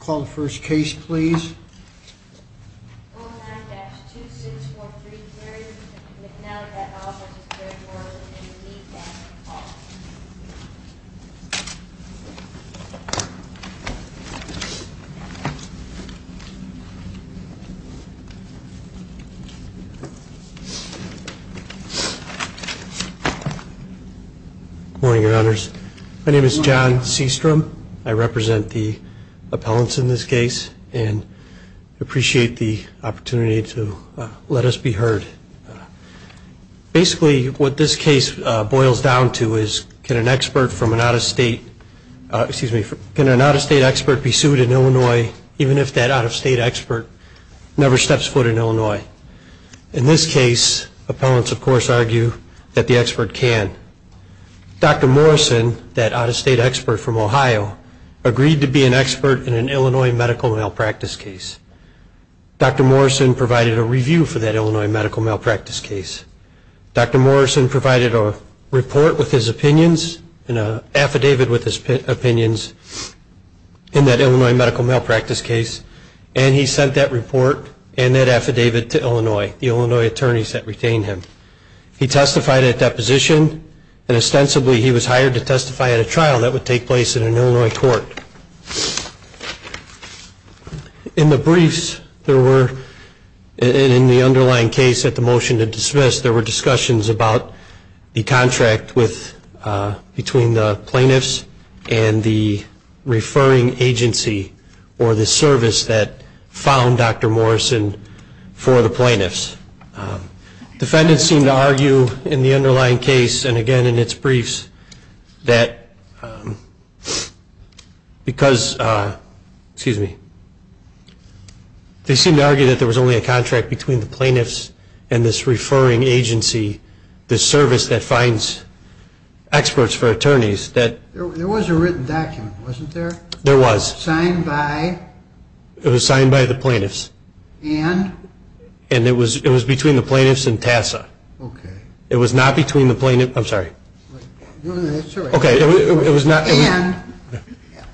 Call the first case, please. Good morning, your honors. My name is John Seastrom. I represent the appellants in this case and appreciate the opportunity to let us be heard. Basically, what this case boils down to is can an expert from an out-of-state, excuse me, can an out-of-state expert be sued in Illinois, even if that out-of-state expert never steps foot in Illinois? In this case, appellants, of course, argue that the expert can. Dr. Morrison, that out-of-state expert from Ohio, agreed to be an expert in an Illinois medical malpractice case. Dr. Morrison provided a review for that Illinois medical malpractice case. Dr. Morrison provided a report with his opinions and an affidavit with his opinions in that Illinois medical malpractice case, and he sent that report and that affidavit to Illinois, the Illinois attorneys that retained him. He testified at deposition, and ostensibly he was hired to testify at a trial that would take place in an Illinois court. In the briefs, there were, in the underlying case at the motion to dismiss, there were discussions about the contract between the plaintiffs and the referring agency or the service that found Dr. Morrison for the plaintiffs. Defendants seem to argue in the underlying case, and again in its briefs, that because, excuse me, they seem to argue that there was only a contract between the plaintiffs and this referring agency, the service that finds experts for attorneys. There was a written document, wasn't there? There was. Signed by? It was signed by the plaintiffs. And? And it was between the plaintiffs and TASA. Okay. It was not between the plaintiffs. I'm sorry. No, that's all right. Okay, it was not. And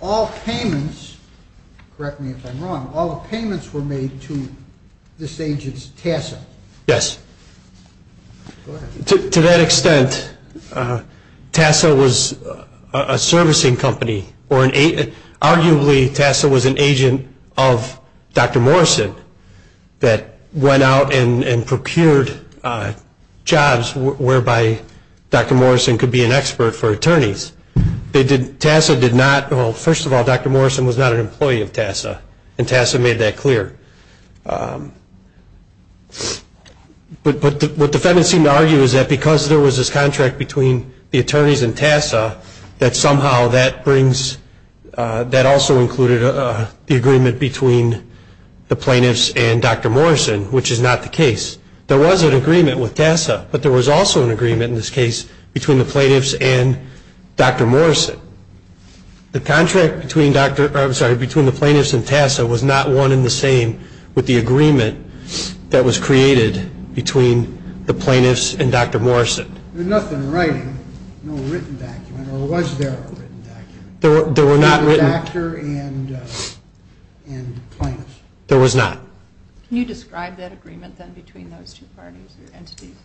all payments, correct me if I'm wrong, all the payments were made to this agent's TASA. Yes. Go ahead. To that extent, TASA was a servicing company, or arguably TASA was an agent of Dr. Morrison that went out and procured jobs whereby Dr. Morrison could be an expert for attorneys. TASA did not, well, first of all, Dr. Morrison was not an employee of TASA, and TASA made that clear. But what defendants seem to argue is that because there was this contract between the attorneys and TASA, that somehow that brings, that also included the agreement between the plaintiffs and Dr. Morrison, which is not the case. There was an agreement with TASA, but there was also an agreement in this case between the plaintiffs and Dr. Morrison. The contract between the plaintiffs and TASA was not one in the same with the agreement that was created between the plaintiffs and Dr. Morrison. There was nothing written, no written document, or was there a written document? There were not written. Between the doctor and the plaintiffs. There was not. Can you describe that agreement then between those two parties or entities?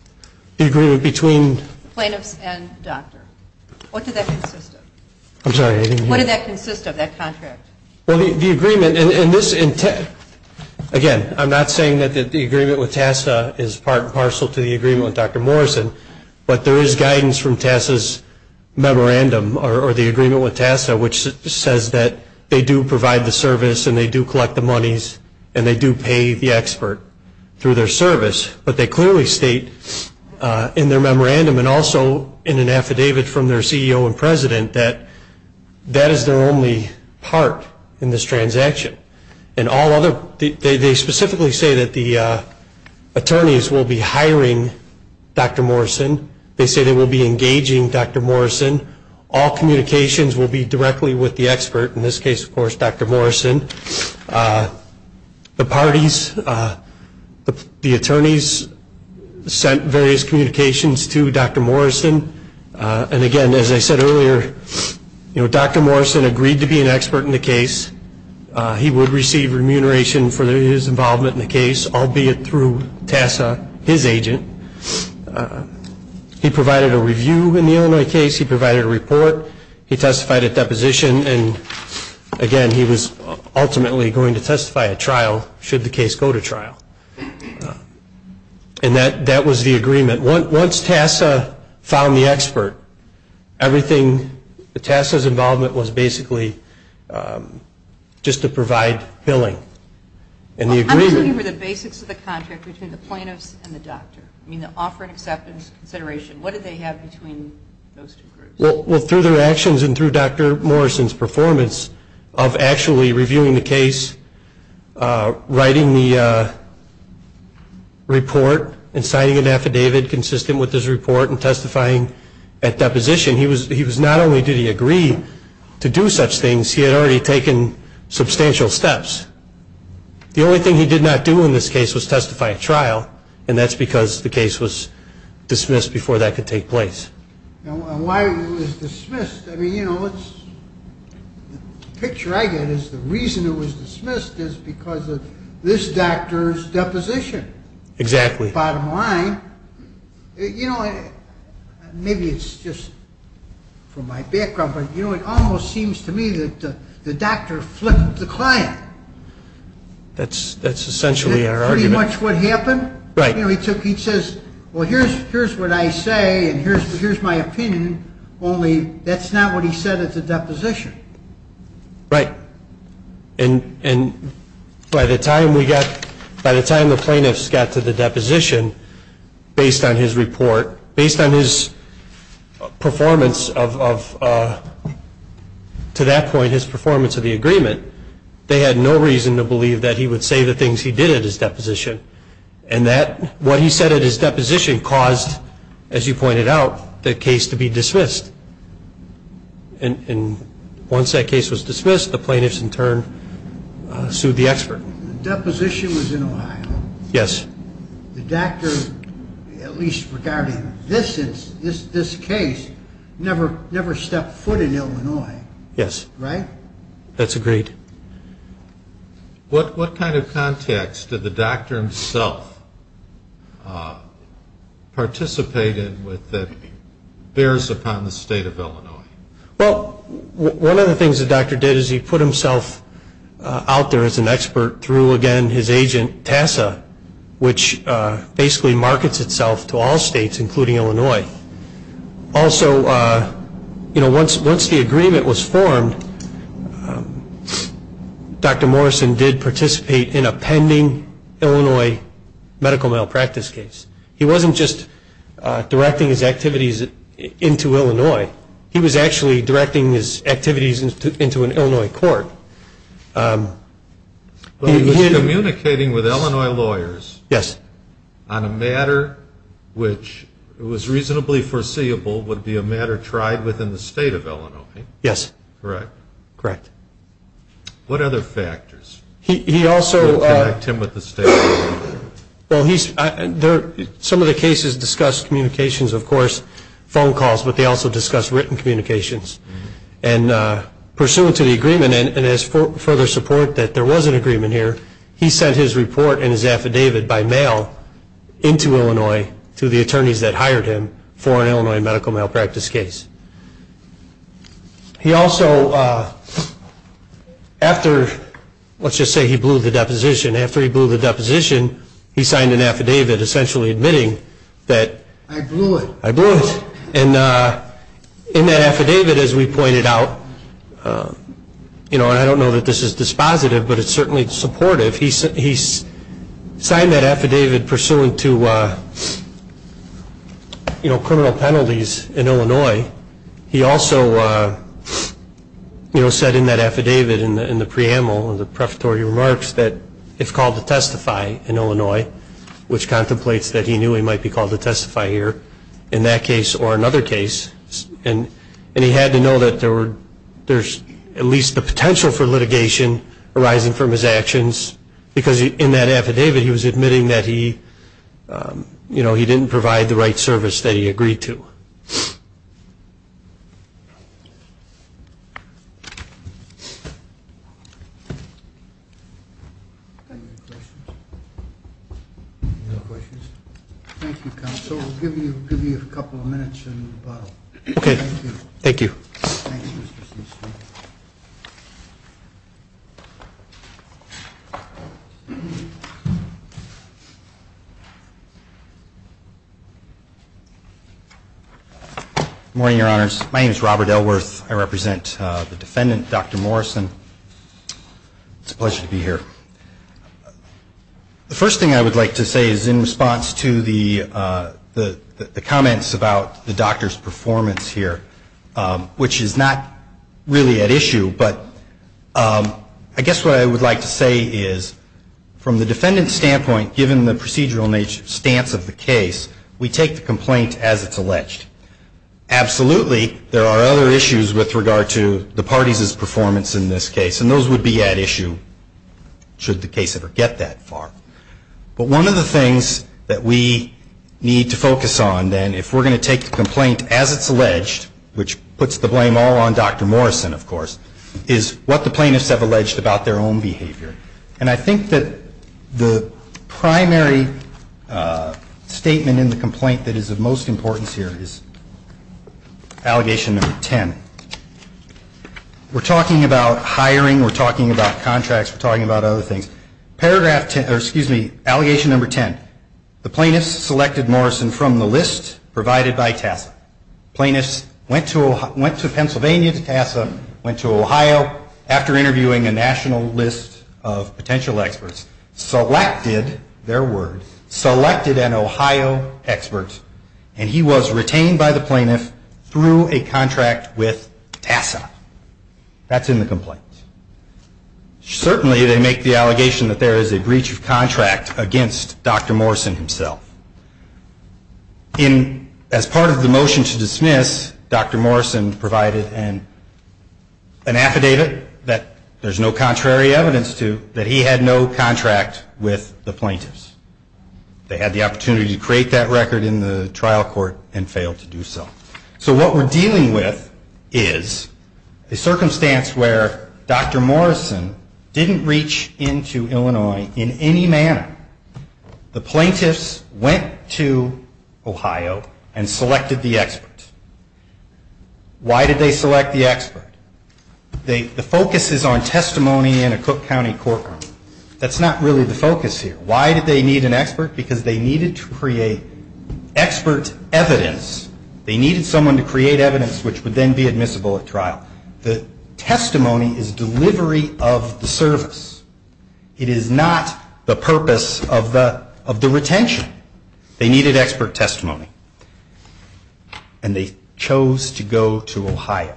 The agreement between? The plaintiffs and the doctor. What did that consist of? I'm sorry, I didn't hear. What did that consist of, that contract? Well, the agreement, and this, again, I'm not saying that the agreement with TASA is part and parcel to the agreement with Dr. Morrison, but there is guidance from TASA's memorandum, or the agreement with TASA, which says that they do provide the service and they do collect the monies and they do pay the expert through their service. But they clearly state in their memorandum and also in an affidavit from their CEO and president that that is their only part in this transaction. And all other, they specifically say that the attorneys will be hiring Dr. Morrison. They say they will be engaging Dr. Morrison. All communications will be directly with the expert, in this case, of course, Dr. Morrison. The parties, the attorneys, sent various communications to Dr. Morrison. And, again, as I said earlier, Dr. Morrison agreed to be an expert in the case. He would receive remuneration for his involvement in the case, albeit through TASA, his agent. He provided a review in the Illinois case. He provided a report. He testified at deposition. And, again, he was ultimately going to testify at trial, should the case go to trial. And that was the agreement. Once TASA found the expert, everything, TASA's involvement was basically just to provide billing. And the agreement- I'm looking for the basics of the contract between the plaintiffs and the doctor. I mean, the offer and acceptance consideration. What did they have between those two groups? Well, through their actions and through Dr. Morrison's performance of actually reviewing the case, writing the report and signing an affidavit consistent with his report and testifying at deposition, he was not only did he agree to do such things, he had already taken substantial steps. The only thing he did not do in this case was testify at trial, and that's because the case was dismissed before that could take place. And why it was dismissed? I mean, you know, the picture I get is the reason it was dismissed is because of this doctor's deposition. Exactly. Bottom line. You know, maybe it's just from my background, but, you know, it almost seems to me that the doctor flipped the client. That's essentially our argument. Is that pretty much what happened? Right. But, you know, he says, well, here's what I say and here's my opinion, only that's not what he said at the deposition. Right. And by the time the plaintiffs got to the deposition, based on his report, based on his performance of, to that point, his performance of the agreement, they had no reason to believe that he would say the things he did at his deposition. And what he said at his deposition caused, as you pointed out, the case to be dismissed. And once that case was dismissed, the plaintiffs, in turn, sued the expert. The deposition was in Ohio. Yes. The doctor, at least regarding this case, never stepped foot in Illinois. Yes. Right? That's agreed. What kind of context did the doctor himself participate in that bears upon the state of Illinois? Well, one of the things the doctor did is he put himself out there as an expert through, again, his agent, TASA, which basically markets itself to all states, including Illinois. Also, you know, once the agreement was formed, Dr. Morrison did participate in a pending Illinois medical malpractice case. He wasn't just directing his activities into Illinois. He was actually directing his activities into an Illinois court. He was communicating with Illinois lawyers. Yes. And he said that on a matter which was reasonably foreseeable would be a matter tried within the state of Illinois. Yes. Correct? Correct. What other factors would connect him with the state? Well, some of the cases discussed communications, of course, phone calls, but they also discussed written communications. And pursuant to the agreement, and as further support that there was an agreement here, he sent his report and his affidavit by mail into Illinois to the attorneys that hired him for an Illinois medical malpractice case. He also, after, let's just say he blew the deposition, after he blew the deposition he signed an affidavit essentially admitting that. I blew it. I blew it. And in that affidavit, as we pointed out, you know, and I don't know that this is dispositive, but it's certainly supportive, he signed that affidavit pursuant to, you know, criminal penalties in Illinois. He also, you know, said in that affidavit, in the preamble of the prefatory remarks, that it's called to testify in Illinois, which contemplates that he knew he might be called to testify here in that case or another case. And he had to know that there's at least the potential for litigation arising from his actions, because in that affidavit he was admitting that he, you know, he didn't provide the right service that he agreed to. Any other questions? Thank you, Counsel. We'll give you a couple of minutes in the bottle. Okay. Thank you. Thank you. Thanks, Mr. Steele. Good morning, Your Honors. My name is Robert Steele. I represent the defendant, Dr. Morrison. It's a pleasure to be here. The first thing I would like to say is in response to the comments about the doctor's performance here, which is not really at issue, but I guess what I would like to say is, from the defendant's standpoint, given the procedural stance of the case, we take the complaint as it's alleged. Absolutely there are other issues with regard to the parties' performance in this case, and those would be at issue should the case ever get that far. But one of the things that we need to focus on, then, if we're going to take the complaint as it's alleged, which puts the blame all on Dr. Morrison, of course, is what the plaintiffs have alleged about their own behavior. And I think that the primary statement in the complaint that is of most importance here is allegation number 10. We're talking about hiring. We're talking about contracts. We're talking about other things. Paragraph 10, or excuse me, allegation number 10. Plaintiffs went to Pennsylvania to TASA, went to Ohio after interviewing a national list of potential experts, selected, their word, selected an Ohio expert, and he was retained by the plaintiff through a contract with TASA. That's in the complaint. Certainly they make the allegation that there is a breach of contract against Dr. Morrison himself. As part of the motion to dismiss, Dr. Morrison provided an affidavit that there's no contrary evidence to, that he had no contract with the plaintiffs. They had the opportunity to create that record in the trial court and failed to do so. So what we're dealing with is a circumstance where Dr. Morrison didn't reach into Illinois in any manner. The plaintiffs went to Ohio and selected the expert. Why did they select the expert? The focus is on testimony in a Cook County courtroom. That's not really the focus here. Why did they need an expert? Because they needed to create expert evidence. They needed someone to create evidence which would then be admissible at trial. The testimony is delivery of the service. It is not the purpose of the retention. They needed expert testimony. And they chose to go to Ohio.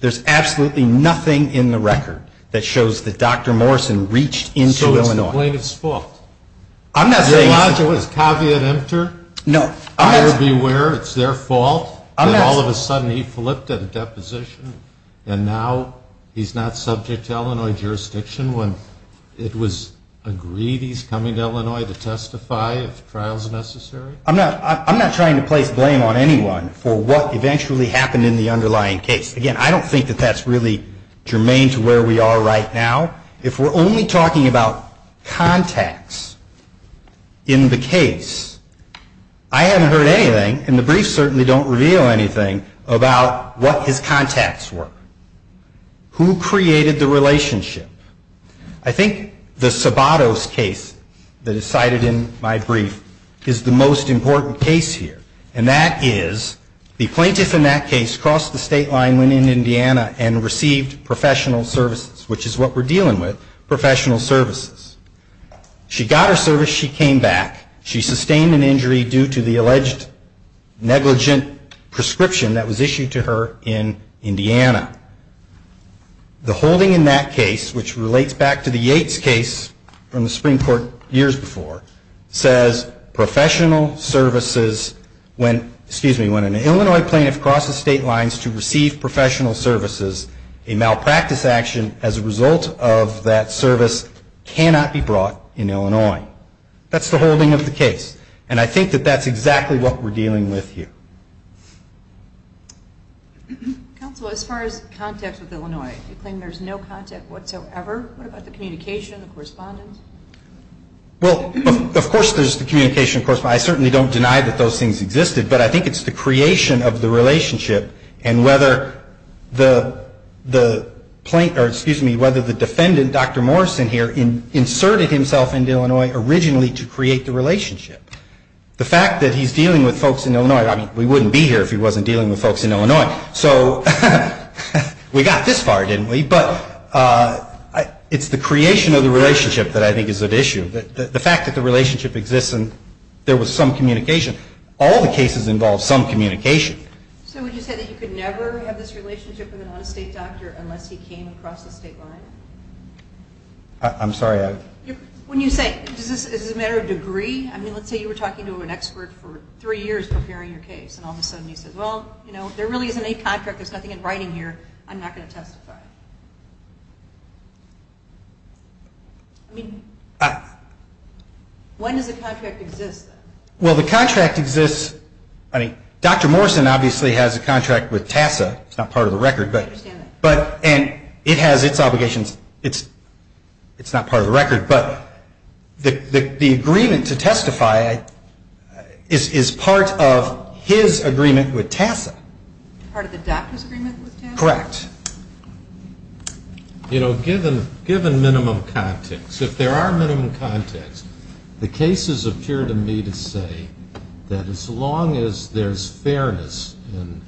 There's absolutely nothing in the record that shows that Dr. Morrison reached into Illinois. So it's the plaintiff's fault. I'm not saying it's the plaintiff's fault. Is the logic of this caveat entered? No. I would be aware it's their fault that all of a sudden he flipped at a deposition and now he's not subject to Illinois jurisdiction when it was agreed he's coming to Illinois to testify if trials are necessary? I'm not trying to place blame on anyone for what eventually happened in the underlying case. Again, I don't think that that's really germane to where we are right now. If we're only talking about contacts in the case, I haven't heard anything, and the briefs certainly don't reveal anything about what his contacts were. Who created the relationship? I think the Sabatos case that is cited in my brief is the most important case here. And that is the plaintiff in that case crossed the state line, went into Indiana, and received professional services, which is what we're dealing with, professional services. She got her service. She came back. She sustained an injury due to the alleged negligent prescription that was issued to her in Indiana. The holding in that case, which relates back to the Yates case from the Supreme Court years before, says professional services, when an Illinois plaintiff crosses state lines to receive professional services, a malpractice action as a result of that service cannot be brought in Illinois. That's the holding of the case, and I think that that's exactly what we're dealing with here. Counsel, as far as contacts with Illinois, you claim there's no contact whatsoever. What about the communication, the correspondence? Well, of course there's the communication. I certainly don't deny that those things existed, but I think it's the creation of the relationship and whether the defendant, Dr. Morrison here, inserted himself into Illinois originally to create the relationship. The fact that he's dealing with folks in Illinois. I mean, we wouldn't be here if he wasn't dealing with folks in Illinois. So we got this far, didn't we? But it's the creation of the relationship that I think is at issue. The fact that the relationship exists and there was some communication. All the cases involve some communication. So would you say that you could never have this relationship with an out-of-state doctor unless he came across the state line? I'm sorry? When you say, is this a matter of degree? I mean, let's say you were talking to an expert for three years preparing your case and all of a sudden he says, well, you know, there really isn't any contract. There's nothing in writing here. I'm not going to testify. I mean, when does the contract exist? Well, the contract exists. I mean, Dr. Morrison obviously has a contract with TASA. It's not part of the record. I understand that. And it has its obligations. It's not part of the record. But the agreement to testify is part of his agreement with TASA. Part of the doctor's agreement with TASA? Correct. You know, given minimum context, if there are minimum contexts, the cases appear to me to say that as long as there's fairness in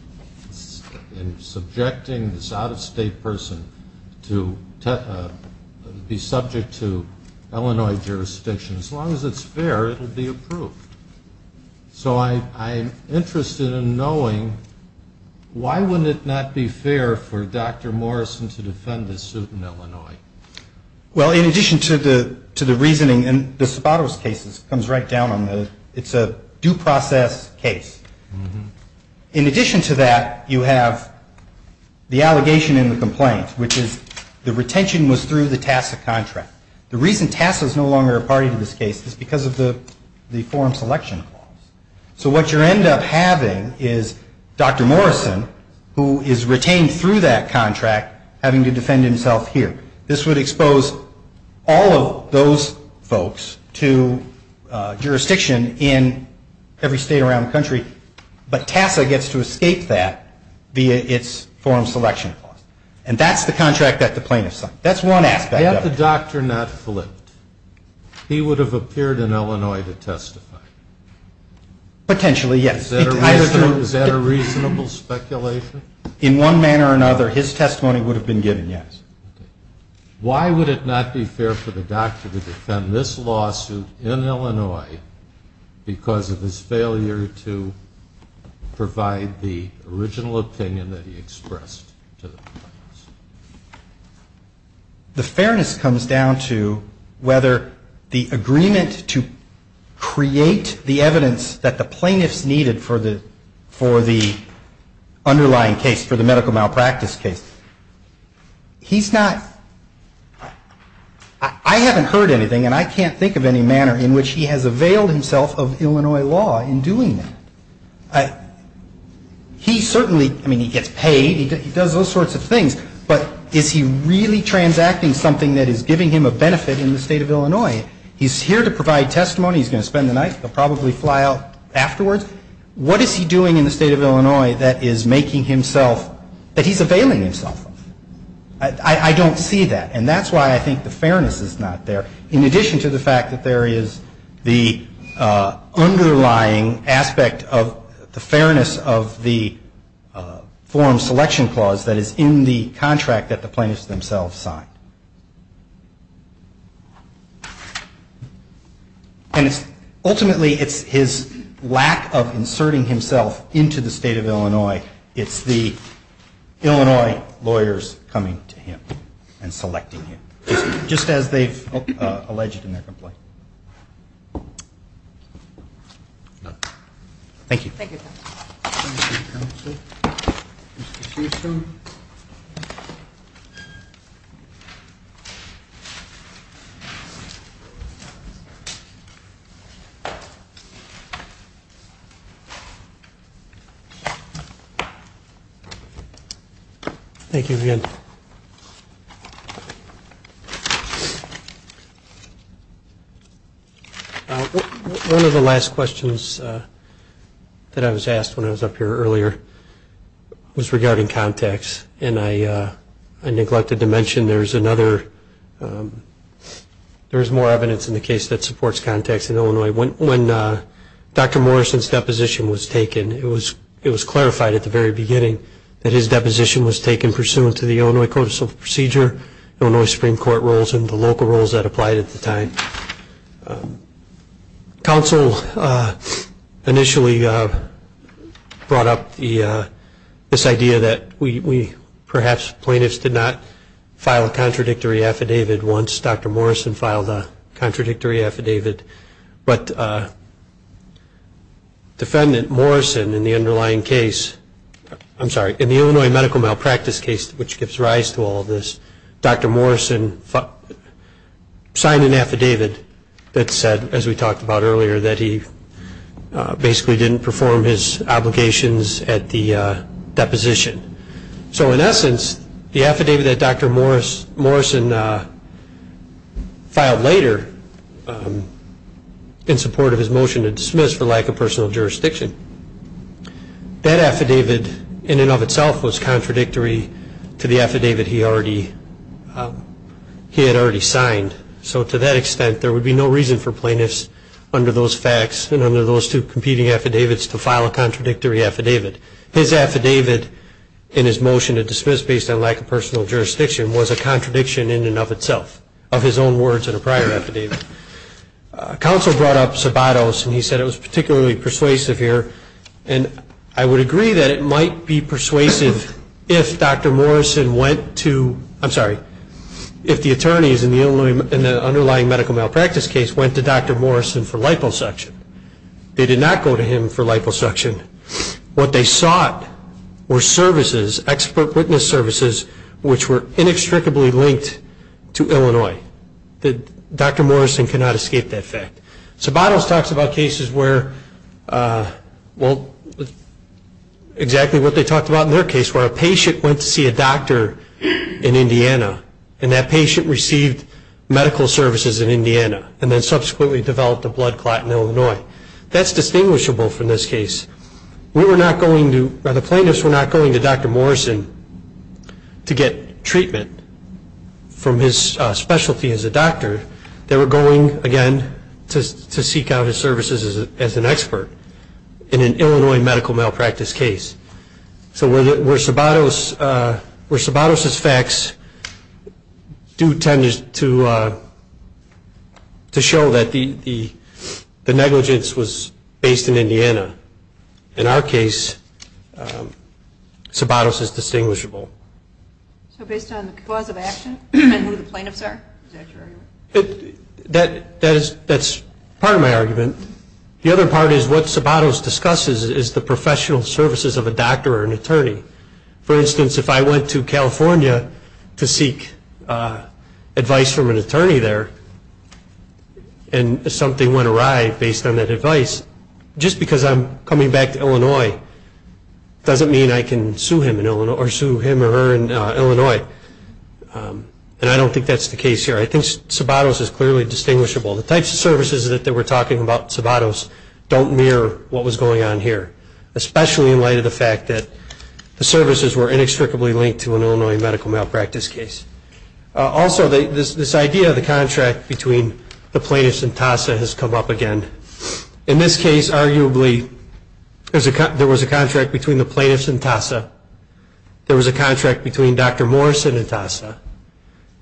subjecting this out-of-state person to be subject to Illinois jurisdiction, as long as it's fair, it will be approved. So I'm interested in knowing why wouldn't it not be fair for Dr. Morrison to defend his suit in Illinois? Well, in addition to the reasoning, and this is about those cases, it comes right down on the, it's a due process case. In addition to that, you have the allegation in the complaint, which is the retention was through the TASA contract. The reason TASA is no longer a party to this case is because of the form selection. So what you end up having is Dr. Morrison, who is retained through that contract, having to defend himself here. This would expose all of those folks to jurisdiction in every state around the country, but TASA gets to escape that via its form selection clause. And that's the contract that the plaintiff signed. That's one aspect of it. Had the doctor not flipped, he would have appeared in Illinois to testify. Potentially, yes. Is that a reasonable speculation? In one manner or another, his testimony would have been given, yes. Why would it not be fair for the doctor to defend this lawsuit in Illinois because of his failure to provide the original opinion that he expressed to the plaintiffs? The fairness comes down to whether the agreement to create the evidence that the plaintiffs needed for the underlying case, for the medical malpractice case. He's not ‑‑ I haven't heard anything, and I can't think of any manner, in which he has availed himself of Illinois law in doing that. He certainly ‑‑ I mean, he gets paid. He does those sorts of things. But is he really transacting something that is giving him a benefit in the state of Illinois? He's here to provide testimony. He's going to spend the night. He'll probably fly out afterwards. What is he doing in the state of Illinois that is making himself ‑‑ that he's availing himself of? I don't see that. And that's why I think the fairness is not there, in addition to the fact that there is the underlying aspect of the fairness of the forum selection clause that is in the contract that the plaintiffs themselves signed. And it's ‑‑ ultimately, it's his lack of inserting himself into the state of Illinois. It's the Illinois lawyers coming to him and selecting him, just as they've alleged in their complaint. Thank you. Thank you, counsel. Thank you, counsel. Mr. Houston. Thank you again. One of the last questions that I was asked when I was up here earlier was regarding contacts. And I neglected to mention there is another ‑‑ there is more evidence in the case that supports contacts in Illinois. When Dr. Morrison's deposition was taken, it was clarified at the very beginning that his deposition was taken pursuant to the Illinois Code of Civil Procedure, Illinois Supreme Court rules, and the local rules that applied at the time. Counsel initially brought up this idea that we, perhaps, plaintiffs did not file a contradictory affidavit once Dr. Morrison filed a contradictory affidavit. But defendant Morrison in the underlying case, I'm sorry, in the Illinois medical malpractice case, which gives rise to all of this, Dr. Morrison signed an affidavit that said, as we talked about earlier, that he basically didn't perform his obligations at the deposition. So, in essence, the affidavit that Dr. Morrison filed later, in support of his motion to dismiss for lack of personal jurisdiction, that affidavit in and of itself was contradictory to the affidavit he had already signed. So, to that extent, there would be no reason for plaintiffs under those facts and under those two competing affidavits to file a contradictory affidavit. His affidavit in his motion to dismiss based on lack of personal jurisdiction was a contradiction in and of itself, of his own words in a prior affidavit. Counsel brought up Sabatos, and he said it was particularly persuasive here, and I would agree that it might be persuasive if Dr. Morrison went to, I'm sorry, if the attorneys in the underlying medical malpractice case went to Dr. Morrison for liposuction. They did not go to him for liposuction. What they sought were services, expert witness services, which were inextricably linked to Illinois. Dr. Morrison cannot escape that fact. Sabatos talks about cases where, well, exactly what they talked about in their case, where a patient went to see a doctor in Indiana, and that patient received medical services in Indiana, and then subsequently developed a blood clot in Illinois. That's distinguishable from this case. The plaintiffs were not going to Dr. Morrison to get treatment from his specialty as a doctor. They were going, again, to seek out his services as an expert in an Illinois medical malpractice case. So where Sabatos' facts do tend to show that the negligence was based in Indiana, in our case, Sabatos is distinguishable. So based on the cause of action and who the plaintiffs are? That's part of my argument. The other part is what Sabatos discusses is the professional services of a doctor or an attorney. For instance, if I went to California to seek advice from an attorney there, and something went awry based on that advice, just because I'm coming back to Illinois doesn't mean I can sue him or her in Illinois. And I don't think that's the case here. I think Sabatos is clearly distinguishable. The types of services that they were talking about in Sabatos don't mirror what was going on here, especially in light of the fact that the services were inextricably linked to an Illinois medical malpractice case. Also, this idea of the contract between the plaintiffs and TASA has come up again. In this case, arguably, there was a contract between the plaintiffs and TASA, there was a contract between Dr. Morrison and TASA,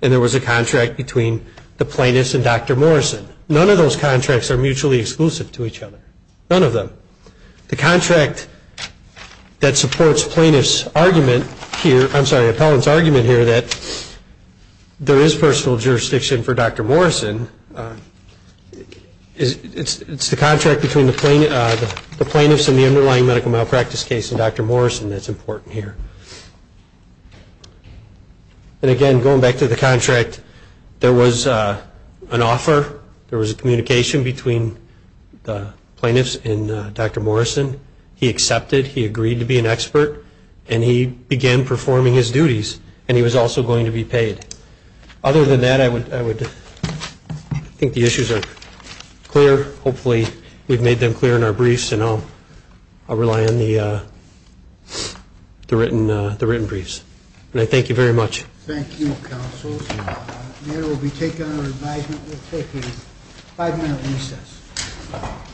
and there was a contract between the plaintiffs and Dr. Morrison. None of those contracts are mutually exclusive to each other. None of them. The contract that supports Appellant's argument here that there is personal jurisdiction for Dr. Morrison, it's the contract between the plaintiffs and the underlying medical malpractice case and Dr. Morrison that's important here. And again, going back to the contract, there was an offer, there was a communication between the plaintiffs and Dr. Morrison. He accepted, he agreed to be an expert, and he began performing his duties. And he was also going to be paid. Other than that, I would think the issues are clear. Hopefully we've made them clear in our briefs, and I'll rely on the written briefs. And I thank you very much. Thank you, Counsel. The matter will be taken under advisement. We'll take a five-minute recess.